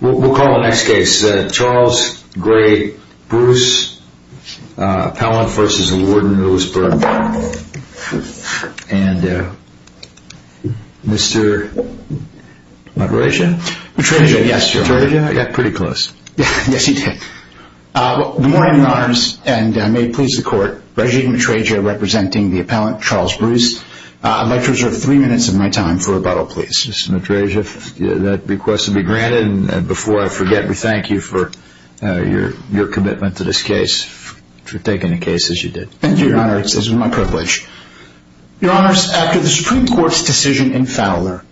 We'll call the next case. Charles Gray Bruce, Appellant v. Warden of Williamsburg. And Mr. Matreja? Matreja, yes, Your Honor. Matreja? Yeah, pretty close. Yes, he did. Good morning, Your Honors, and may it please the Court, Reggie Matreja representing the Appellant, Charles Bruce. I'd like to reserve three minutes of my time for rebuttal, please. Mr. Matreja, that request will be granted. And before I forget, we thank you for your commitment to this case, for taking the case as you did. Thank you, Your Honor. It's been my privilege. Your Honors, after the Supreme Court's decision in Fowler,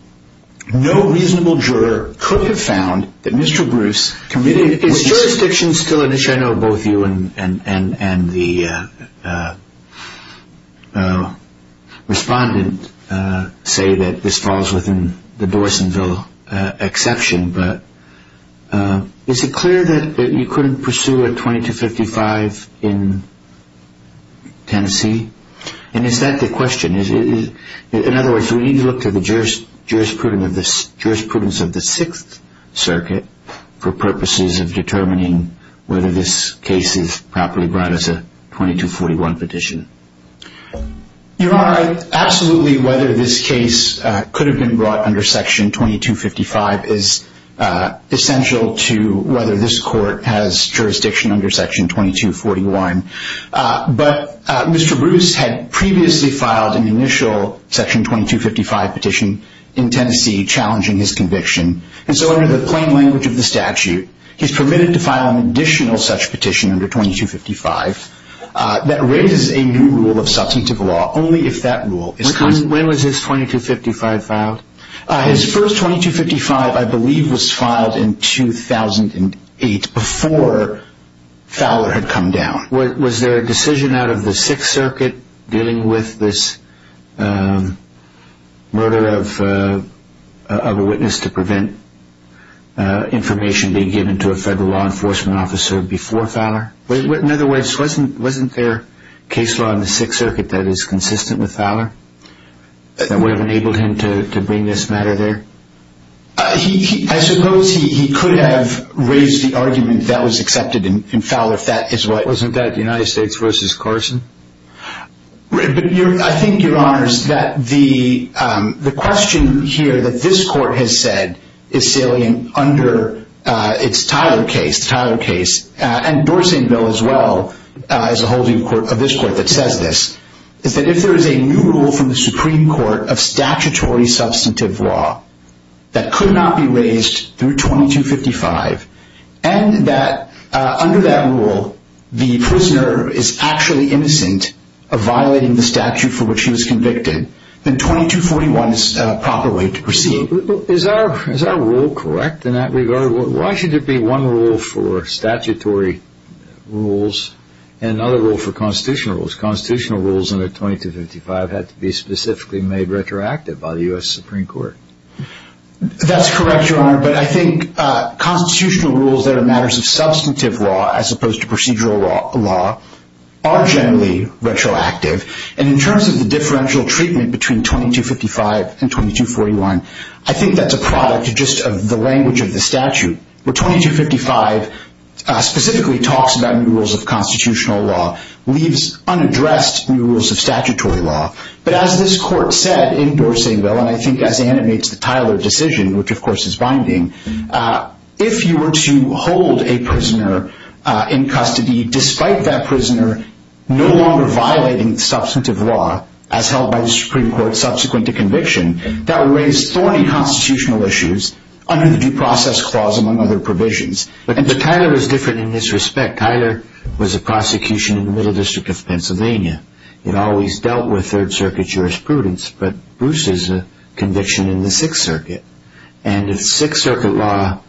no reasonable juror could have found that Mr. Bruce committed... Jurisdiction still in issue. I know both you and the respondent say that this falls within the Dorsonville exception, but is it clear that you couldn't pursue a 2255 in Tennessee? And is that the question? In other words, we need to look to the jurisprudence of the Sixth Circuit for purposes of determining whether this case is properly brought as a 2241 petition. Your Honor, absolutely whether this case could have been brought under Section 2255 is essential to whether this court has jurisdiction under Section 2241. But Mr. Bruce had previously filed an initial Section 2255 petition in Tennessee challenging his conviction. And so under the plain language of the statute, he's permitted to file an additional such petition under 2255 that raises a new rule of substantive law, only if that rule is... When was his 2255 filed? His first 2255, I believe, was filed in 2008, before Fowler had come down. Was there a decision out of the Sixth Circuit dealing with this murder of a witness to prevent information being given to a federal law enforcement officer before Fowler? In other words, wasn't there case law in the Sixth Circuit that is consistent with Fowler, that would have enabled him to bring this matter there? I suppose he could have raised the argument that was accepted in Fowler if that is what... Wasn't that the United States v. Carson? I think, Your Honors, that the question here that this court has said is salient under its Tyler case, and Dorsey and Bill as well as a holding court of this court that says this, is that if there is a new rule from the Supreme Court of statutory substantive law that could not be raised through 2255, and that under that rule the prisoner is actually innocent of violating the statute for which he was convicted, then 2241 is the proper way to proceed. Is our rule correct in that regard? Why should there be one rule for statutory rules and another rule for constitutional rules? Because constitutional rules under 2255 had to be specifically made retroactive by the U.S. Supreme Court. That's correct, Your Honor, but I think constitutional rules that are matters of substantive law as opposed to procedural law are generally retroactive, and in terms of the differential treatment between 2255 and 2241, I think that's a product just of the language of the statute. Where 2255 specifically talks about new rules of constitutional law leaves unaddressed new rules of statutory law. But as this court said in Dorsey and Bill, and I think as animates the Tyler decision, which of course is binding, if you were to hold a prisoner in custody despite that prisoner no longer violating the substantive law as held by the Supreme Court subsequent to conviction, that would raise thorny constitutional issues under the due process clause among other provisions. But Tyler was different in this respect. Tyler was a prosecution in the Middle District of Pennsylvania. It always dealt with Third Circuit jurisprudence, but Bruce is a conviction in the Sixth Circuit, and if Sixth Circuit law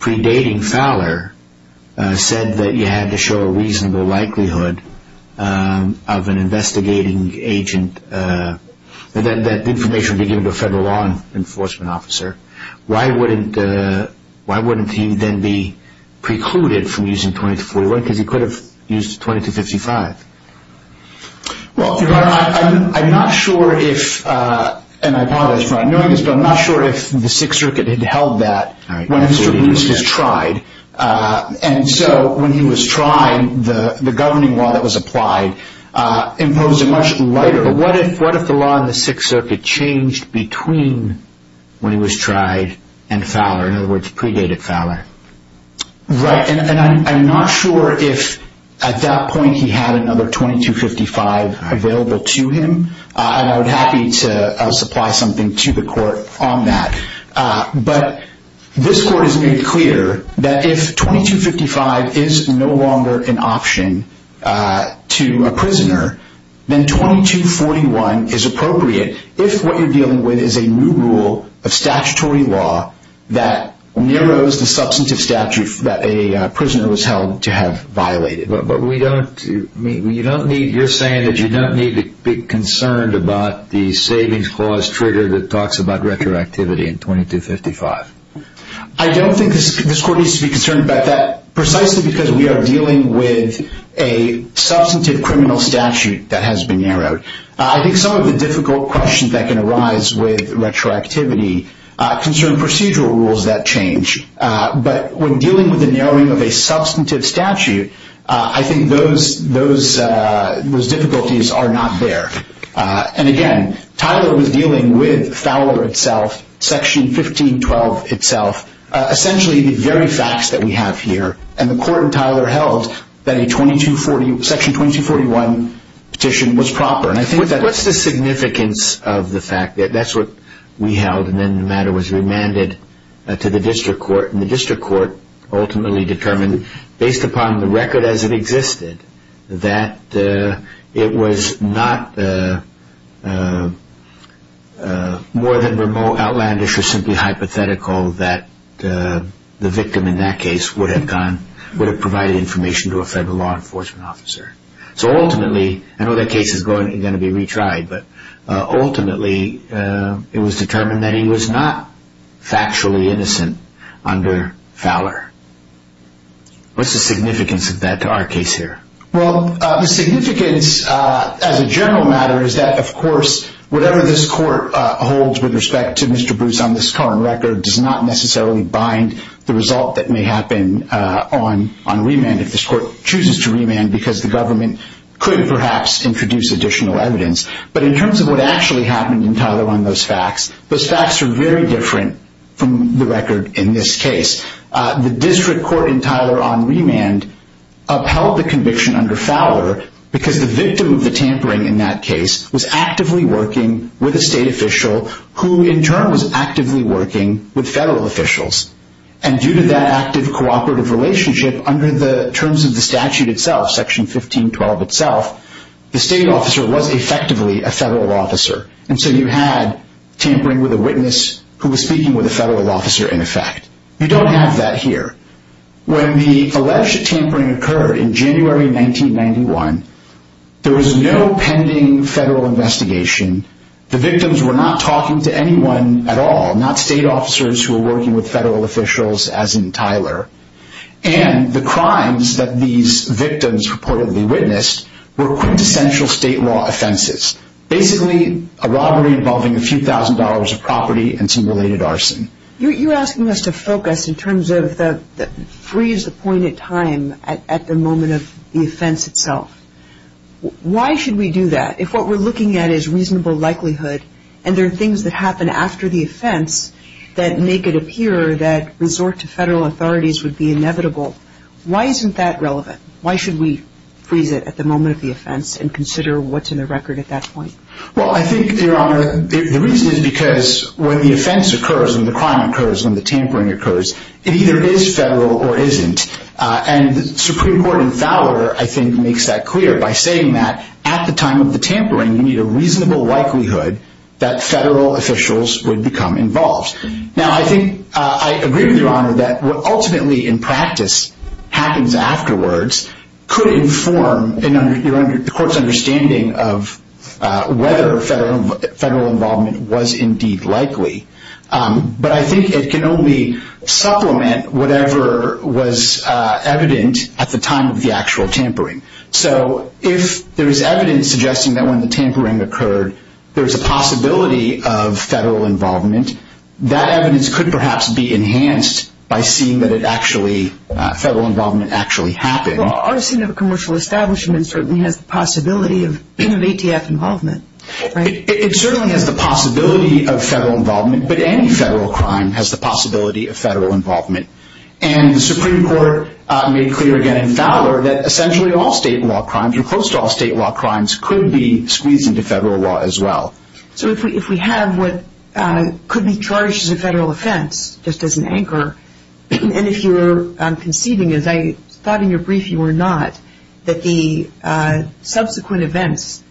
predating Fowler said that you had to show a reasonable likelihood of an investigating agent, that information would be given to a federal law enforcement officer, why wouldn't he then be precluded from using 2241 because he could have used 2255? Well, Your Honor, I'm not sure if, and I apologize for not knowing this, but I'm not sure if the Sixth Circuit had held that when Mr. Bruce has tried. And so when he was trying, the governing law that was applied imposed it much lighter. But what if the law in the Sixth Circuit changed between when he was tried and Fowler, in other words, predated Fowler? Right, and I'm not sure if at that point he had another 2255 available to him, and I would be happy to supply something to the court on that. But this court has made clear that if 2255 is no longer an option to a prisoner, then 2241 is appropriate if what you're dealing with is a new rule of statutory law that narrows the substantive statute that a prisoner was held to have violated. You're saying that you don't need to be concerned about the savings clause trigger that talks about retroactivity in 2255. I don't think this court needs to be concerned about that, precisely because we are dealing with a substantive criminal statute that has been narrowed. I think some of the difficult questions that can arise with retroactivity concern procedural rules that change. But when dealing with the narrowing of a substantive statute, I think those difficulties are not there. And again, Tyler was dealing with Fowler itself, Section 1512 itself, essentially the very facts that we have here. And the court in Tyler held that a Section 2241 petition was proper. What's the significance of the fact that that's what we held and then the matter was remanded to the district court and the district court ultimately determined, based upon the record as it existed, that it was not more than outlandish or simply hypothetical that the victim in that case would have provided information to a federal law enforcement officer. So ultimately, I know that case is going to be retried, but ultimately it was determined that he was not factually innocent under Fowler. What's the significance of that to our case here? Well, the significance as a general matter is that, of course, whatever this court holds with respect to Mr. Bruce on this current record does not necessarily bind the result that may happen on remand if this court chooses to remand because the government could perhaps introduce additional evidence. But in terms of what actually happened in Tyler on those facts, those facts are very different from the record in this case. The district court in Tyler on remand upheld the conviction under Fowler because the victim of the tampering in that case was actively working with a state official who in turn was actively working with federal officials. And due to that active cooperative relationship under the terms of the statute itself, Section 1512 itself, the state officer was effectively a federal officer. And so you had tampering with a witness who was speaking with a federal officer in effect. You don't have that here. When the alleged tampering occurred in January 1991, there was no pending federal investigation. The victims were not talking to anyone at all, not state officers who were working with federal officials as in Tyler. And the crimes that these victims reportedly witnessed were quintessential state law offenses, basically a robbery involving a few thousand dollars of property and some related arson. You're asking us to focus in terms of freeze the point in time at the moment of the offense itself. Why should we do that if what we're looking at is reasonable likelihood and there are things that happen after the offense that make it appear that resort to federal authorities would be inevitable? Why isn't that relevant? Why should we freeze it at the moment of the offense and consider what's in the record at that point? Well, I think, Your Honor, the reason is because when the offense occurs and the crime occurs, when the tampering occurs, it either is federal or isn't. And the Supreme Court in Fowler, I think, makes that clear by saying that at the time of the tampering, you need a reasonable likelihood that federal officials would become involved. Now, I think I agree with Your Honor that what ultimately in practice happens afterwards could inform the court's understanding of whether federal involvement was indeed likely. But I think it can only supplement whatever was evident at the time of the actual tampering. So if there is evidence suggesting that when the tampering occurred, there is a possibility of federal involvement, that evidence could perhaps be enhanced by seeing that federal involvement actually happened. Well, our scene of a commercial establishment certainly has the possibility of ATF involvement, right? It certainly has the possibility of federal involvement, but any federal crime has the possibility of federal involvement. And the Supreme Court made clear again in Fowler that essentially all state law crimes or close to all state law crimes could be squeezed into federal law as well. So if we have what could be charged as a federal offense, just as an anchor, and if you were conceiving, as I thought in your brief you were not, that the subsequent events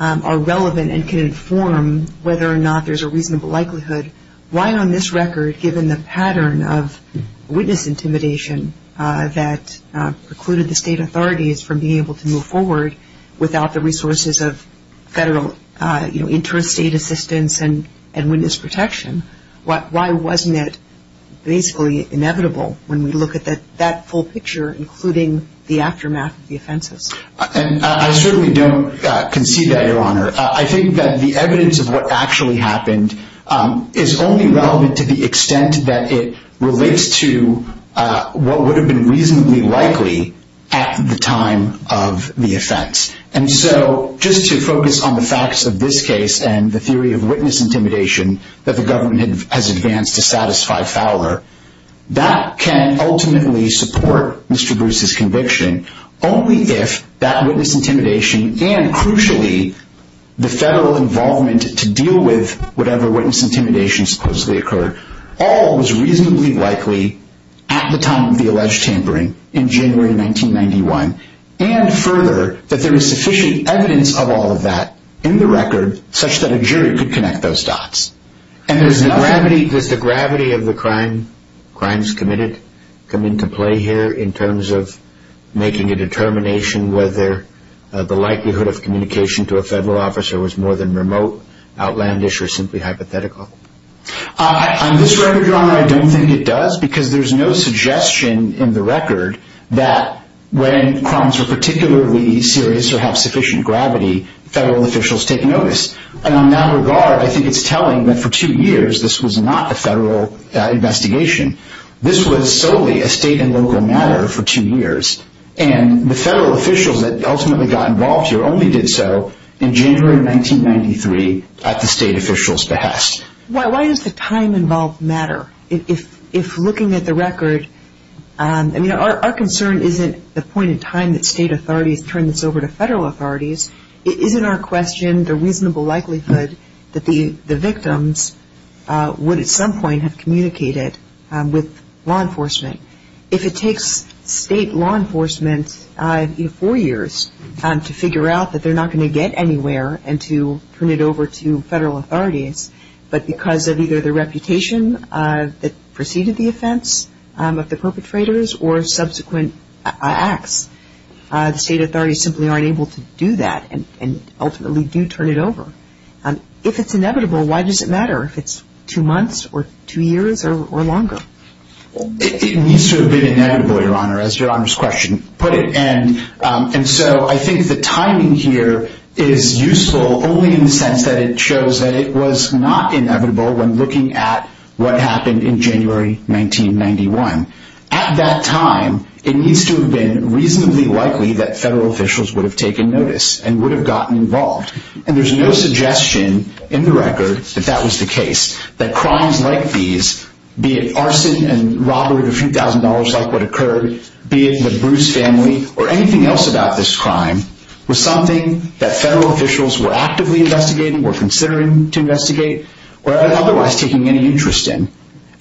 are relevant and can inform whether or not there's a reasonable likelihood, why on this record, given the pattern of witness intimidation that precluded the state authorities from being able to move forward without the resources of federal interstate assistance and witness protection, why wasn't it basically inevitable when we look at that full picture, including the aftermath of the offenses? I certainly don't concede that, Your Honor. I think that the evidence of what actually happened is only relevant to the extent that it relates to what would have been reasonably likely at the time of the offense. And so just to focus on the facts of this case and the theory of witness intimidation that the government has advanced to satisfy Fowler, that can ultimately support Mr. Bruce's conviction only if that witness intimidation and crucially the federal involvement to deal with whatever witness intimidation supposedly occurred all was reasonably likely at the time of the alleged tampering in January 1991, and further that there is sufficient evidence of all of that in the record such that a jury could connect those dots. And does the gravity of the crimes committed come into play here in terms of making a determination whether the likelihood of communication to a federal officer was more than remote, outlandish, or simply hypothetical? On this record, Your Honor, I don't think it does because there's no suggestion in the record that when crimes were particularly serious or have sufficient gravity, federal officials take notice. And on that regard, I think it's telling that for two years this was not a federal investigation. This was solely a state and local matter for two years. And the federal officials that ultimately got involved here only did so in January 1993 at the state officials' behest. Why does the time involved matter? If looking at the record, I mean, our concern isn't the point in time that state authorities turn this over to federal authorities. It isn't our question the reasonable likelihood that the victims would at some point have communicated with law enforcement. If it takes state law enforcement four years to figure out that they're not going to get anywhere and to turn it over to federal authorities, but because of either the reputation that preceded the offense of the perpetrators or subsequent acts, the state authorities simply aren't able to do that and ultimately do turn it over. If it's inevitable, why does it matter if it's two months or two years or longer? It needs to have been inevitable, Your Honor, as Your Honor's question put it. And so I think the timing here is useful only in the sense that it shows that it was not inevitable when looking at what happened in January 1991. At that time, it needs to have been reasonably likely that federal officials would have taken notice and would have gotten involved. And there's no suggestion in the record that that was the case, that crimes like these, be it arson and robbery of a few thousand dollars like what occurred, be it the Bruce family or anything else about this crime, was something that federal officials were actively investigating or considering to investigate or otherwise taking any interest in.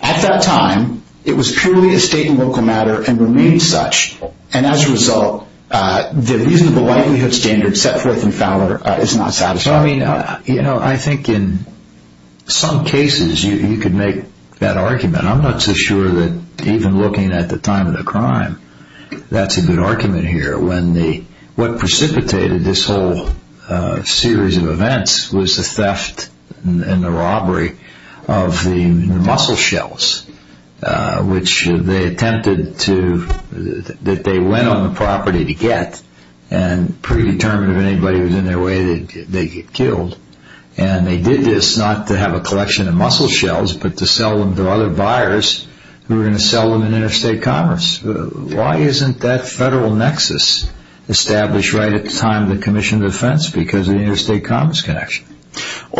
At that time, it was purely a state and local matter and remained such. And as a result, the reasonable likelihood standard set forth in Fowler is not satisfactory. I mean, you know, I think in some cases you could make that argument. I'm not so sure that even looking at the time of the crime, that's a good argument here. What precipitated this whole series of events was the theft and the robbery of the mussel shells, which they attempted to, that they went on the property to get and predetermined if anybody was in their way, they'd get killed. And they did this not to have a collection of mussel shells, but to sell them to other buyers who were going to sell them in interstate commerce. Why isn't that federal nexus established right at the time of the commission of defense? Because of the interstate commerce connection.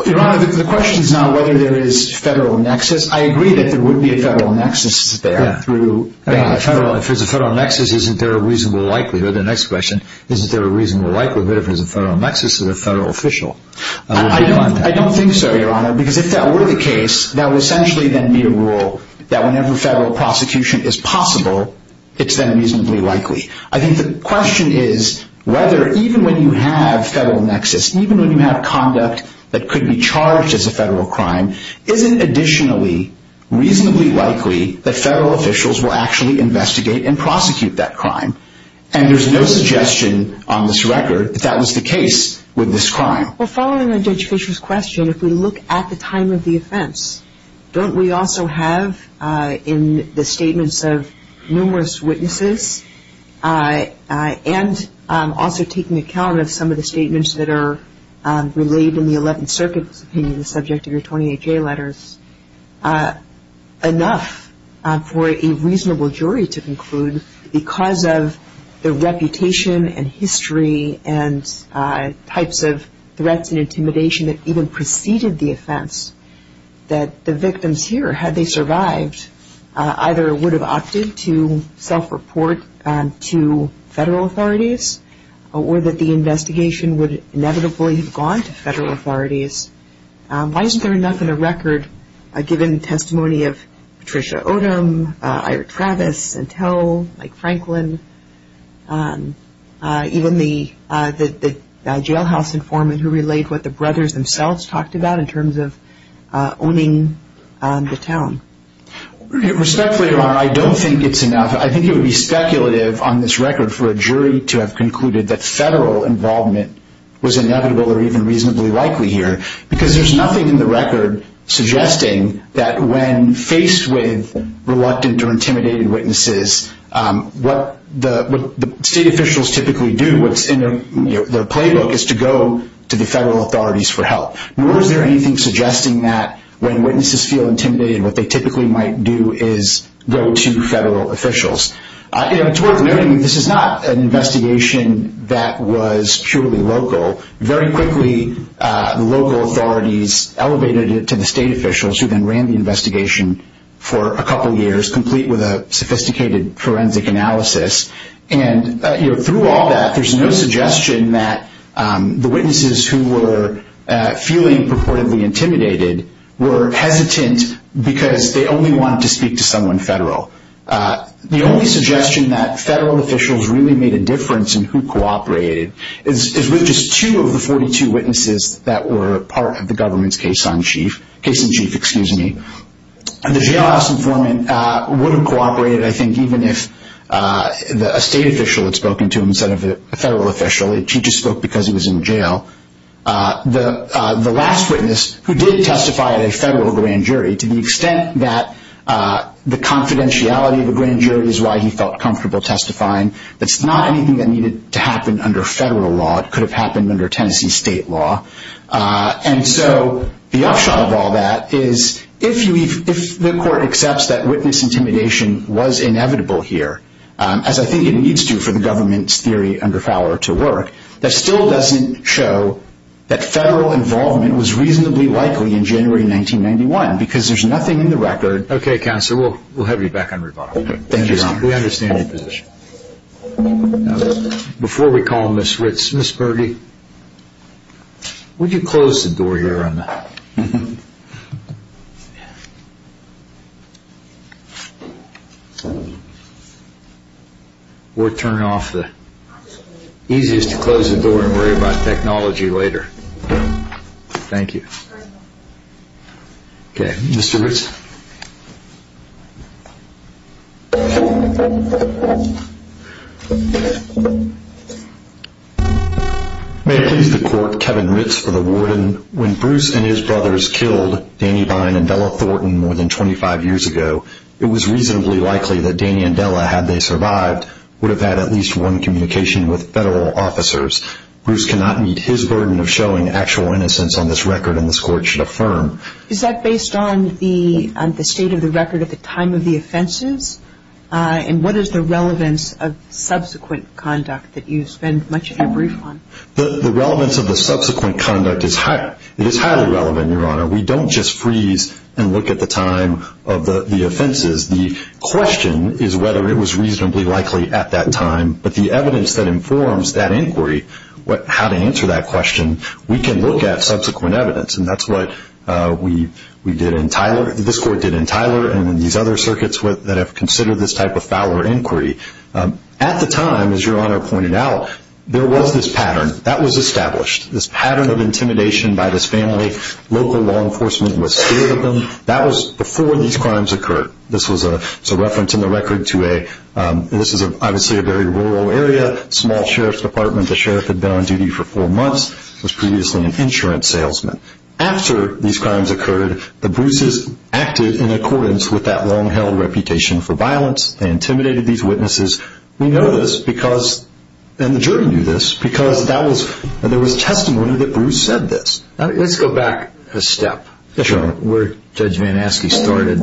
Your Honor, the question is not whether there is a federal nexus. I agree that there would be a federal nexus there. If there's a federal nexus, isn't there a reasonable likelihood, the next question, is there a reasonable likelihood if there's a federal nexus or a federal official? I don't think so, Your Honor, because if that were the case, that would essentially then be a rule that whenever federal prosecution is possible, it's then reasonably likely. I think the question is whether even when you have federal nexus, even when you have conduct that could be charged as a federal crime, isn't additionally reasonably likely that federal officials will actually investigate and prosecute that crime. And there's no suggestion on this record that that was the case with this crime. Well, following on Judge Fischer's question, if we look at the time of the offense, don't we also have in the statements of numerous witnesses and also taking account of some of the statements that are relayed in the Eleventh Circuit's opinion, the subject of your 28-J letters, enough for a reasonable jury to conclude because of the reputation and history and types of threats and intimidation that even preceded the offense, that the victims here, had they survived, either would have opted to self-report to federal authorities or that the investigation would inevitably have gone to federal authorities? Why isn't there enough in the record, given testimony of Patricia Odom, Eric Travis, Santel, Mike Franklin, even the jailhouse informant who relayed what the brothers themselves talked about in terms of owning the town? Respectfully, Your Honor, I don't think it's enough. I think it would be speculative on this record for a jury to have concluded that federal involvement was inevitable or even reasonably likely here. Because there's nothing in the record suggesting that when faced with reluctant or intimidated witnesses, what the state officials typically do, what's in their playbook, is to go to the federal authorities for help. Nor is there anything suggesting that when witnesses feel intimidated, what they typically might do is go to federal officials. It's worth noting this is not an investigation that was purely local. Very quickly, local authorities elevated it to the state officials who then ran the investigation for a couple years, complete with a sophisticated forensic analysis. And through all that, there's no suggestion that the witnesses who were feeling purportedly intimidated were hesitant because they only wanted to speak to someone federal. The only suggestion that federal officials really made a difference in who cooperated is with just two of the 42 witnesses that were part of the government's case in chief. The jailhouse informant would have cooperated, I think, even if a state official had spoken to him instead of a federal official. He just spoke because he was in jail. The last witness who did testify at a federal grand jury, to the extent that the confidentiality of the grand jury is why he felt comfortable testifying, that's not anything that needed to happen under federal law. It could have happened under Tennessee state law. And so the upshot of all that is if the court accepts that witness intimidation was inevitable here, as I think it needs to for the government's theory under Fowler to work, that still doesn't show that federal involvement was reasonably likely in January 1991 because there's nothing in the record. Okay, Counselor, we'll have you back on rebuttal. Thank you, Your Honor. We understand your position. Before we call Ms. Ritz, Ms. Berge, would you close the door here? Thank you, Your Honor. We'll turn off the easiest to close the door and worry about technology later. Thank you. Okay, Mr. Ritz. May it please the Court, Kevin Ritz for the Warden. When Bruce and his brothers killed Danny Vine and Della Thornton more than 25 years ago, it was reasonably likely that Danny and Della, had they survived, would have had at least one communication with federal officers. Bruce cannot meet his burden of showing actual innocence on this record, and this Court should affirm. Is that based on the evidence that you have? Is that based on the state of the record at the time of the offenses? And what is the relevance of subsequent conduct that you spend much of your brief on? The relevance of the subsequent conduct is highly relevant, Your Honor. We don't just freeze and look at the time of the offenses. The question is whether it was reasonably likely at that time, but the evidence that informs that inquiry, how to answer that question, we can look at subsequent evidence, and that's what we did. This Court did in Tyler and these other circuits that have considered this type of foul or inquiry. At the time, as Your Honor pointed out, there was this pattern. That was established. This pattern of intimidation by this family, local law enforcement was scared of them. That was before these crimes occurred. This was a reference in the record to a, this is obviously a very rural area, small sheriff's department. The sheriff had been on duty for four months, was previously an insurance salesman. After these crimes occurred, the Bruce's acted in accordance with that long-held reputation for violence. They intimidated these witnesses. We know this because, and the jury knew this, because there was testimony that Bruce said this. Let's go back a step, Your Honor, where Judge Van Aske started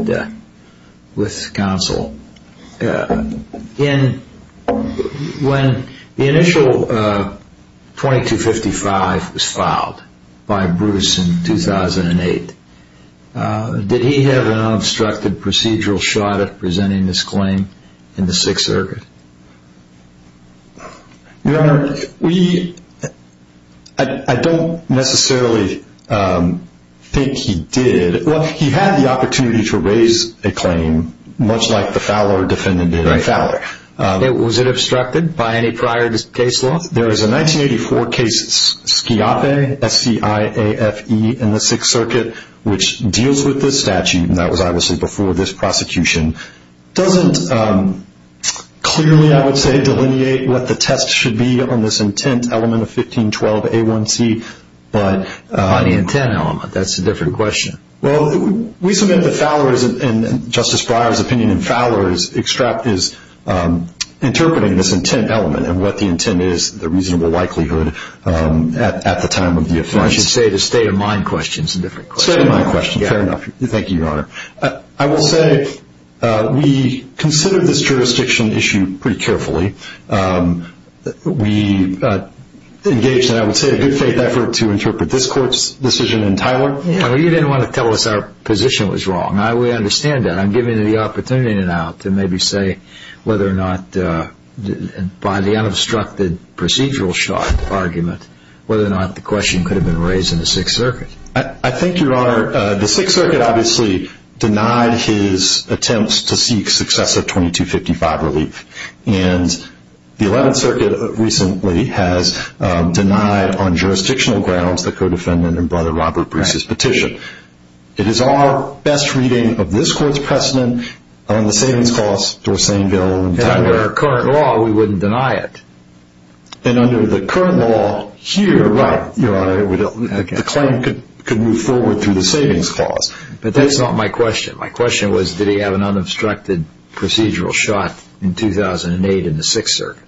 with counsel. When the initial 2255 was filed by Bruce in 2008, did he have an unobstructed procedural shot at presenting this claim in the Sixth Circuit? Your Honor, we, I don't necessarily think he did. Well, he had the opportunity to raise a claim, much like the Fowler defendant did in Fowler. Was it obstructed by any prior case law? There is a 1984 case, Schiappe, S-C-I-A-F-E, in the Sixth Circuit, which deals with this statute. That was obviously before this prosecution. Doesn't clearly, I would say, delineate what the test should be on this intent element of 1512A1C. By the intent element. That's a different question. Well, we submit that Fowler, and Justice Breyer's opinion in Fowler, is interpreting this intent element and what the intent is, the reasonable likelihood, at the time of the offense. I should say the state of mind question is a different question. State of mind question. Fair enough. Thank you, Your Honor. I will say we considered this jurisdiction issue pretty carefully. We engaged in, I would say, a good faith effort to interpret this court's decision entirely. You didn't want to tell us our position was wrong. We understand that. I'm giving you the opportunity now to maybe say whether or not, by the unobstructed procedural shot argument, whether or not the question could have been raised in the Sixth Circuit. I think, Your Honor, the Sixth Circuit obviously denied his attempts to seek successive 2255 relief. And the Eleventh Circuit recently has denied, on jurisdictional grounds, the co-defendant and Brother Robert Bruce's petition. It is our best reading of this court's precedent on the savings clause, Dorsainville. And under our current law, we wouldn't deny it. And under the current law, here, right, Your Honor, the claim could move forward through the savings clause. But that's not my question. My question was, did he have an unobstructed procedural shot in 2008 in the Sixth Circuit?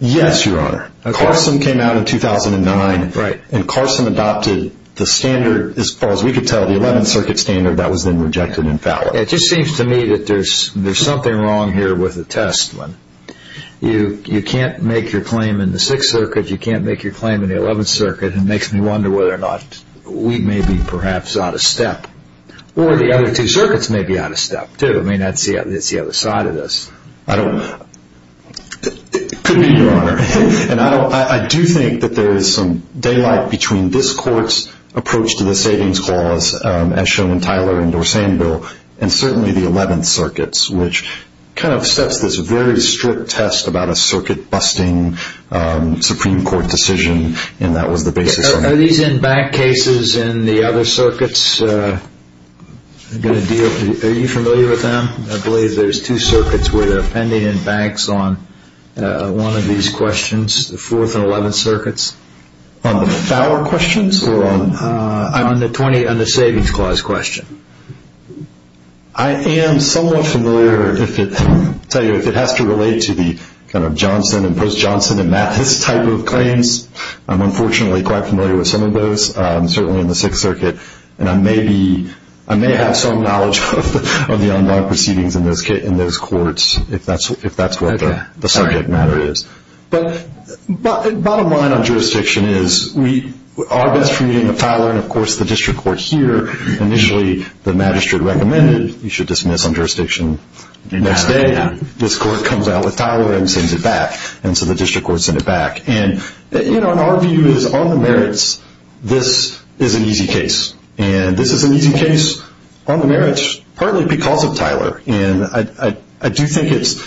Yes, Your Honor. Carson came out in 2009. Right. And Carson adopted the standard, as far as we could tell, the Eleventh Circuit standard that was then rejected in Fallon. It just seems to me that there's something wrong here with the test. You can't make your claim in the Sixth Circuit. You can't make your claim in the Eleventh Circuit. And it makes me wonder whether or not we may be, perhaps, out of step. Or the other two circuits may be out of step, too. I mean, that's the other side of this. I don't know. It could be, Your Honor. And I do think that there is some daylight between this court's approach to the savings clause, as shown in Tyler and Dorsainville, and certainly the Eleventh Circuit's, which kind of steps this very strict test about a circuit-busting Supreme Court decision, and that was the basis of it. Are these in bank cases in the other circuits? Are you familiar with them? I believe there's two circuits where they're pending in banks on one of these questions, the Fourth and Eleventh Circuits. On the Fowler questions? On the Savings Clause question. I am somewhat familiar, I'll tell you, if it has to relate to the kind of Johnson and Post-Johnson and Mathis type of claims. I'm unfortunately quite familiar with some of those, certainly in the Sixth Circuit, and I may have some knowledge of the online proceedings in those courts, if that's what the subject matter is. But bottom line on jurisdiction is we are best treating the Fowler, and of course the district court here, initially the magistrate recommended you should dismiss on jurisdiction the next day. This court comes out with Tyler and sends it back, and so the district court sent it back. And, you know, our view is on the merits, this is an easy case. And this is an easy case on the merits, partly because of Tyler. And I do think it's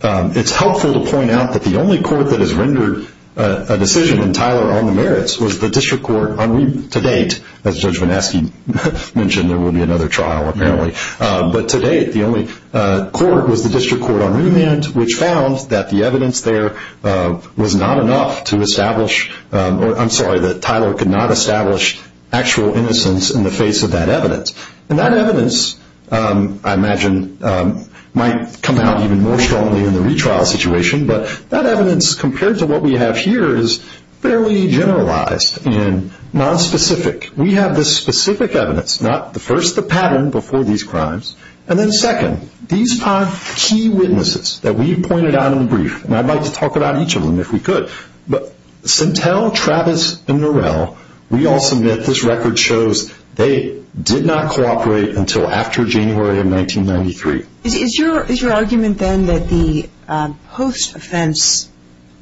helpful to point out that the only court that has rendered a decision in Tyler on the merits was the district court on remand. To date, as Judge Van Aske mentioned, there will be another trial apparently. But to date, the only court was the district court on remand, which found that the evidence there was not enough to establish, or I'm sorry, that Tyler could not establish actual innocence in the face of that evidence. And that evidence, I imagine, might come out even more strongly in the retrial situation, but that evidence compared to what we have here is fairly generalized and nonspecific. We have this specific evidence, not the first, the pattern before these crimes, and then second, these are key witnesses that we pointed out in the brief, and I'd like to talk about each of them if we could. But Sintel, Travis, and Norell, we all submit this record shows they did not cooperate until after January of 1993. Is your argument then that the post-offense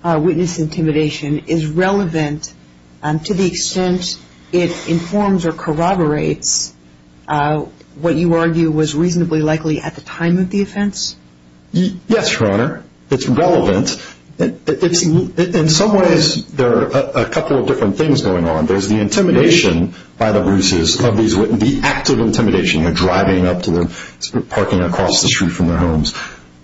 witness intimidation is relevant to the extent it informs or corroborates what you argue was reasonably likely at the time of the offense? Yes, Your Honor, it's relevant. In some ways, there are a couple of different things going on. There's the intimidation by the Bruce's, the active intimidation, the driving up to them, parking across the street from their homes.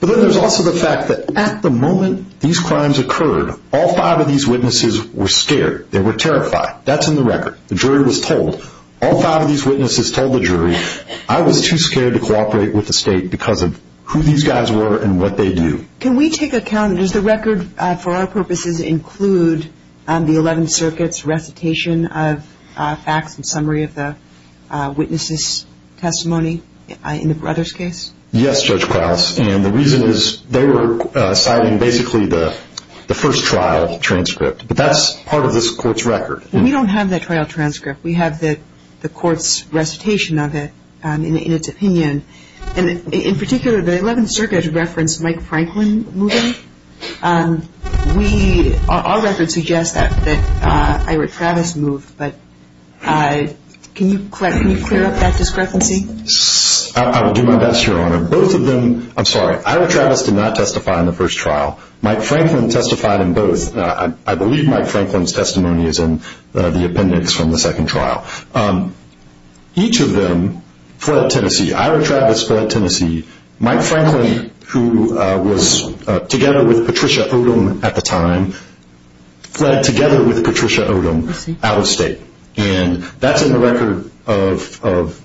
But then there's also the fact that at the moment these crimes occurred, all five of these witnesses were scared. They were terrified. That's in the record. The jury was told. All five of these witnesses told the jury, I was too scared to cooperate with the state because of who these guys were and what they do. Can we take account, does the record for our purposes include the 11th Circuit's recitation of facts and summary of the witnesses' testimony in the Brothers' case? Yes, Judge Krause, and the reason is they were citing basically the first trial transcript, but that's part of this court's record. We don't have that trial transcript. We have the court's recitation of it in its opinion. In particular, the 11th Circuit referenced Mike Franklin moving. Our record suggests that Ira Travis moved, but can you clear up that discrepancy? I will do my best, Your Honor. Both of them, I'm sorry, Ira Travis did not testify in the first trial. Mike Franklin testified in both. I believe Mike Franklin's testimony is in the appendix from the second trial. Each of them fled Tennessee. Ira Travis fled Tennessee. Mike Franklin, who was together with Patricia Odom at the time, fled together with Patricia Odom out of state. And that's in the record of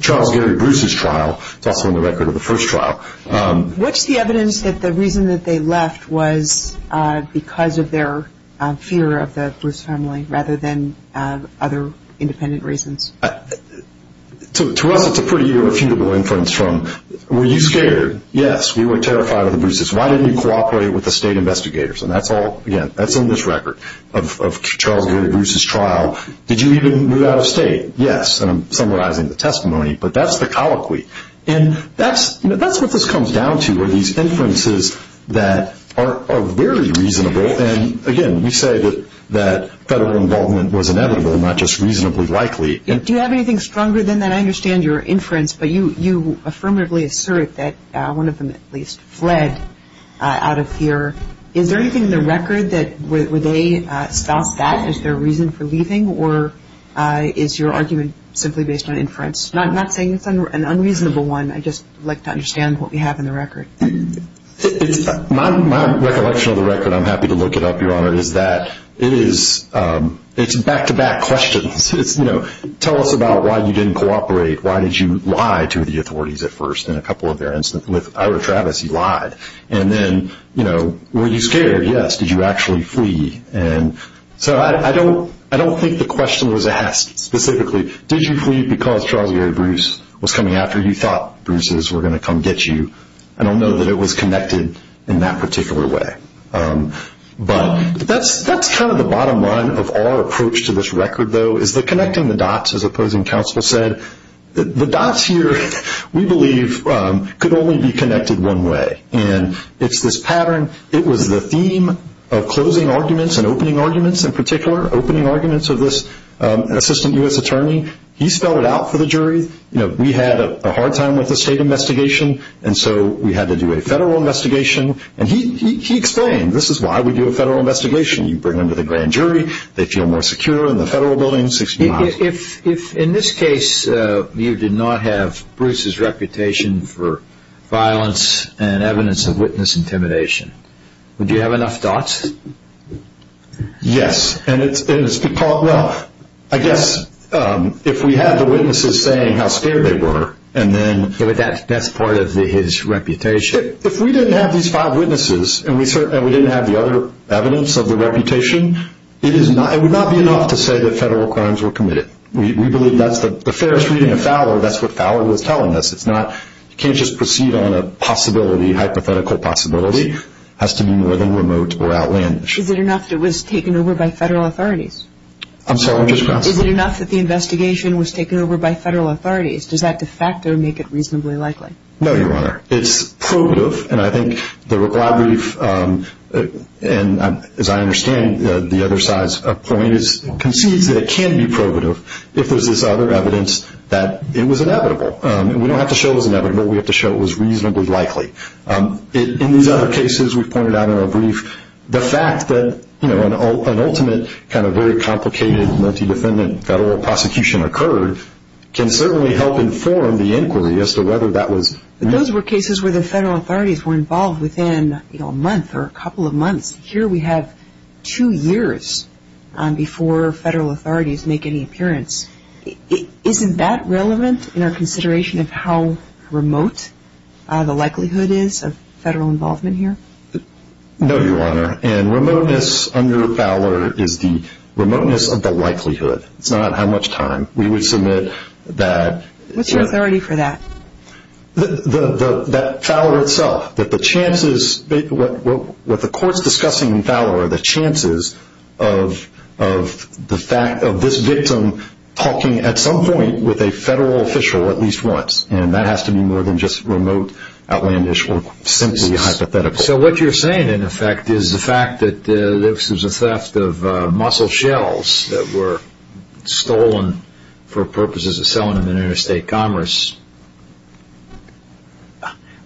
Charles Gary Bruce's trial. It's also in the record of the first trial. What's the evidence that the reason that they left was because of their fear of the Bruce family rather than other independent reasons? To us, it's a pretty irrefutable inference from were you scared? Yes, we were terrified of the Bruce's. Why didn't you cooperate with the state investigators? And that's all, again, that's in this record of Charles Gary Bruce's trial. Did you even move out of state? Yes, and I'm summarizing the testimony, but that's the colloquy. And that's what this comes down to are these inferences that are very reasonable. And, again, we say that federal involvement was inevitable, not just reasonably likely. Do you have anything stronger than that? I understand your inference, but you affirmatively assert that one of them at least fled out of fear. Is there anything in the record that would they stop that? Is there a reason for leaving? Or is your argument simply based on inference? I'm not saying it's an unreasonable one. I just would like to understand what we have in the record. My recollection of the record, I'm happy to look it up, Your Honor, is that it is back-to-back questions. It's, you know, tell us about why you didn't cooperate. Why did you lie to the authorities at first in a couple of their instances? With Ira Travis, he lied. And then, you know, were you scared? Yes. Did you actually flee? So I don't think the question was asked specifically, did you flee because Charles Gary Bruce was coming after you, thought Bruce's were going to come get you. I don't know that it was connected in that particular way. But that's kind of the bottom line of our approach to this record, though, is the connecting the dots, as opposing counsel said. The dots here, we believe, could only be connected one way, and it's this pattern. It was the theme of closing arguments and opening arguments in particular, opening arguments of this assistant U.S. attorney. He spelled it out for the jury. You know, we had a hard time with the state investigation, and so we had to do a federal investigation. And he explained, this is why we do a federal investigation. You bring them to the grand jury, they feel more secure in the federal building, 60 miles. In this case, you did not have Bruce's reputation for violence and evidence of witness intimidation. Would you have enough dots? Yes. And it's because, well, I guess if we had the witnesses saying how scared they were, and then... But that's part of his reputation. If we didn't have these five witnesses, and we didn't have the other evidence of the reputation, it would not be enough to say that federal crimes were committed. We believe that's the fairest reading of Fowler. That's what Fowler was telling us. It's not, you can't just proceed on a possibility, hypothetical possibility. It has to be more than remote or outlandish. Is it enough that it was taken over by federal authorities? I'm sorry, I'm just crossing. Is it enough that the investigation was taken over by federal authorities? Does that de facto make it reasonably likely? No, Your Honor. It's probative, and I think the reply brief, and as I understand the other side's point, concedes that it can be probative if there's this other evidence that it was inevitable. We don't have to show it was inevitable. We have to show it was reasonably likely. In these other cases we've pointed out in our brief, the fact that an ultimate kind of very complicated multi-defendant federal prosecution occurred can certainly help inform the inquiry as to whether that was... Those were cases where the federal authorities were involved within a month or a couple of months. Here we have two years before federal authorities make any appearance. Isn't that relevant in our consideration of how remote the likelihood is of federal involvement here? No, Your Honor, and remoteness under Fowler is the remoteness of the likelihood. It's not how much time. We would submit that... What's your authority for that? That Fowler itself, that the chances, what the court's discussing in Fowler, the chances of this victim talking at some point with a federal official at least once, and that has to be more than just remote, outlandish, or simply hypothetical. So what you're saying, in effect, is the fact that this was a theft of mussel shells that were stolen for purposes of selling them in interstate commerce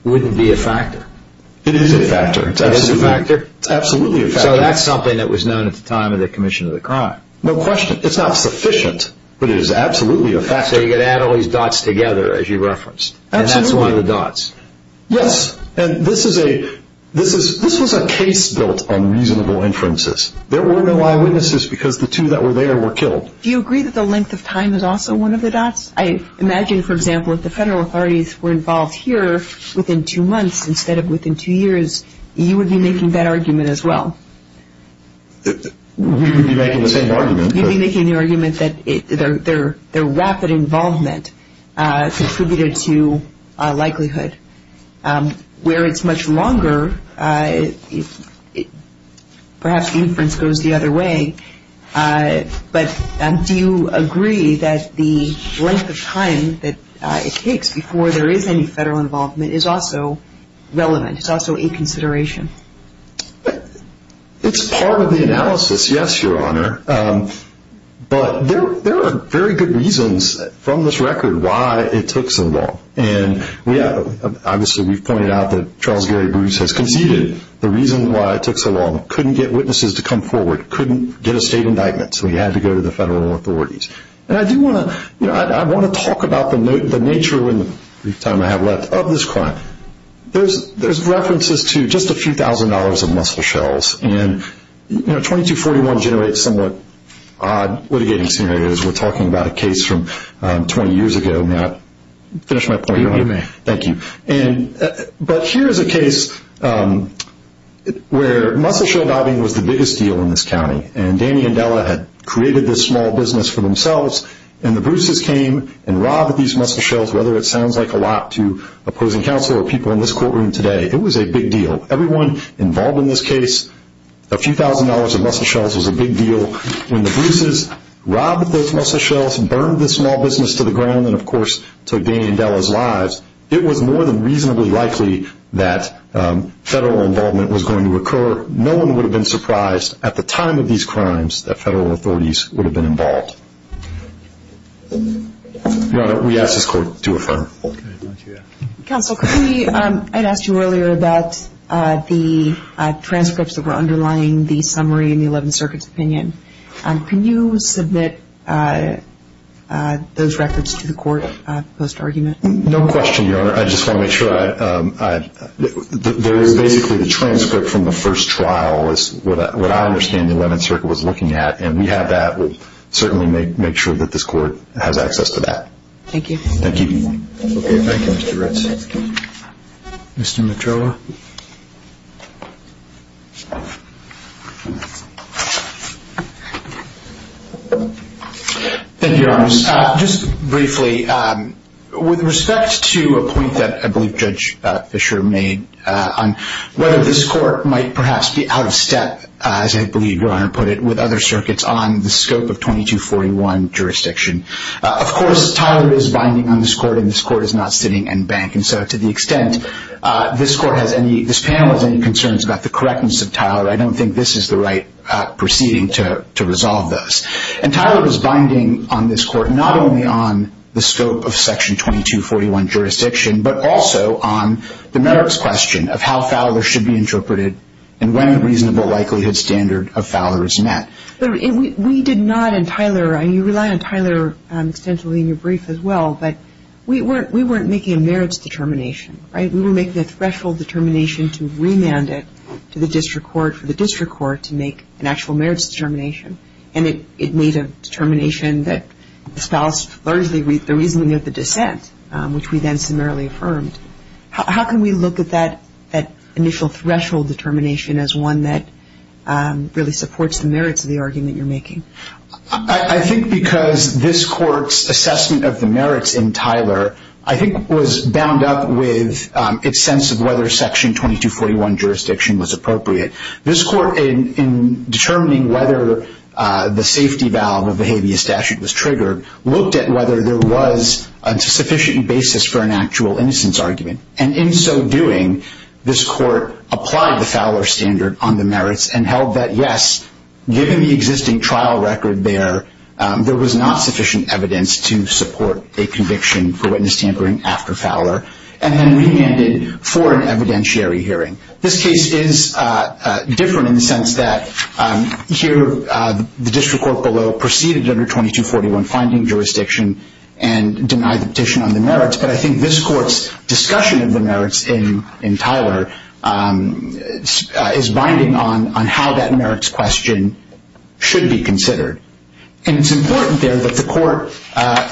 wouldn't be a factor? It is a factor. It is a factor? It's absolutely a factor. So that's something that was known at the time of the commission of the crime? No question. It's not sufficient, but it is absolutely a factor. So you're going to add all these dots together, as you referenced, and that's one of the dots? Absolutely. Yes, and this was a case built on reasonable inferences. There were no eyewitnesses because the two that were there were killed. Do you agree that the length of time is also one of the dots? I imagine, for example, if the federal authorities were involved here within two months instead of within two years, you would be making that argument as well. We would be making the same argument. You'd be making the argument that their rapid involvement contributed to likelihood. Where it's much longer, perhaps the inference goes the other way, but do you agree that the length of time that it takes before there is any federal involvement is also relevant, it's also a consideration? It's part of the analysis, yes, Your Honor, but there are very good reasons from this record why it took so long. Obviously, we've pointed out that Charles Gary Bruce has conceded the reason why it took so long. He couldn't get witnesses to come forward, couldn't get a state indictment, so he had to go to the federal authorities. I want to talk about the nature, in the brief time I have left, of this crime. There's references to just a few thousand dollars of mussel shells, and 2241 generates somewhat odd litigating scenarios. We're talking about a case from 20 years ago. May I finish my point, Your Honor? You may. Thank you. But here is a case where mussel shell bobbing was the biggest deal in this county, and Danny and Della had created this small business for themselves, and the Bruce's came and robbed these mussel shells, whether it sounds like a lot to opposing counsel or people in this courtroom today. It was a big deal. Everyone involved in this case, a few thousand dollars of mussel shells was a big deal. When the Bruce's robbed those mussel shells and burned this small business to the ground and, of course, took Danny and Della's lives, it was more than reasonably likely that federal involvement was going to occur. No one would have been surprised at the time of these crimes that federal authorities would have been involved. Your Honor, we ask this Court to affirm. Counsel, I had asked you earlier about the transcripts that were underlying the summary in the Eleventh Circuit's opinion. Can you submit those records to the Court post-argument? No question, Your Honor. I just want to make sure. There is basically the transcript from the first trial is what I understand the Eleventh Circuit was looking at, and we have that. We'll certainly make sure that this Court has access to that. Thank you. Thank you. Thank you, Mr. Ritz. Mr. Medrola. Thank you, Your Honor. Just briefly, with respect to a point that I believe Judge Fisher made on whether this Court might perhaps be out of step, as I believe Your Honor put it, with other circuits on the scope of 2241 jurisdiction. Of course, Tyler is binding on this Court, and this Court is not sitting and banking. So to the extent this panel has any concerns about the correctness of Tyler, I don't think this is the right proceeding to resolve those. And Tyler was binding on this Court not only on the scope of Section 2241 jurisdiction, but also on the merits question of how Fowler should be interpreted and when the reasonable likelihood standard of Fowler is met. We did not, and Tyler, and you rely on Tyler extensively in your brief as well, but we weren't making a merits determination, right? We were making a threshold determination to remand it to the district court, for the district court to make an actual merits determination. And it made a determination that espoused largely the reasoning of the dissent, which we then summarily affirmed. How can we look at that initial threshold determination as one that really supports the merits of the argument you're making? I think because this Court's assessment of the merits in Tyler, I think was bound up with its sense of whether Section 2241 jurisdiction was appropriate. This Court, in determining whether the safety valve of the habeas statute was triggered, looked at whether there was a sufficient basis for an actual innocence argument. And in so doing, this Court applied the Fowler standard on the merits and held that, yes, given the existing trial record there, there was not sufficient evidence to support a conviction for witness tampering after Fowler, and then remanded for an evidentiary hearing. This case is different in the sense that here the district court below proceeded under 2241 finding jurisdiction and denied the petition on the merits. But I think this Court's discussion of the merits in Tyler is binding on how that merits question should be considered. And it's important there that the Court,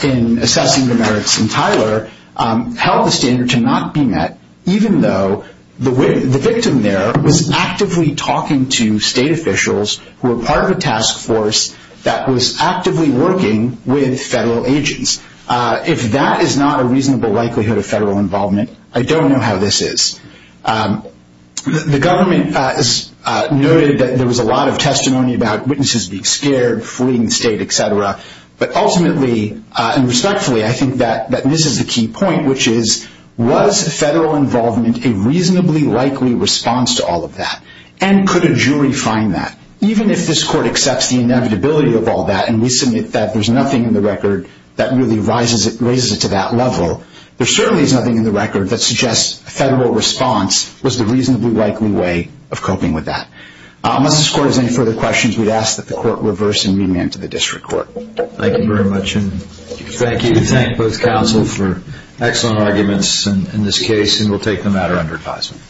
in assessing the merits in Tyler, held the standard to not be met even though the victim there was actively talking to state officials who were part of a task force that was actively working with federal agents. If that is not a reasonable likelihood of federal involvement, I don't know how this is. The government has noted that there was a lot of testimony about witnesses being scared, fleeing the state, et cetera. But ultimately and respectfully, I think that this is the key point, which is was federal involvement a reasonably likely response to all of that? And could a jury find that? Even if this Court accepts the inevitability of all that and we submit that there's nothing in the record that really raises it to that level, there certainly is nothing in the record that suggests a federal response was the reasonably likely way of coping with that. Unless this Court has any further questions, we'd ask that the Court reverse and remand to the district court. Thank you very much. And thank you to both counsel for excellent arguments in this case. And we'll take the matter under advisement.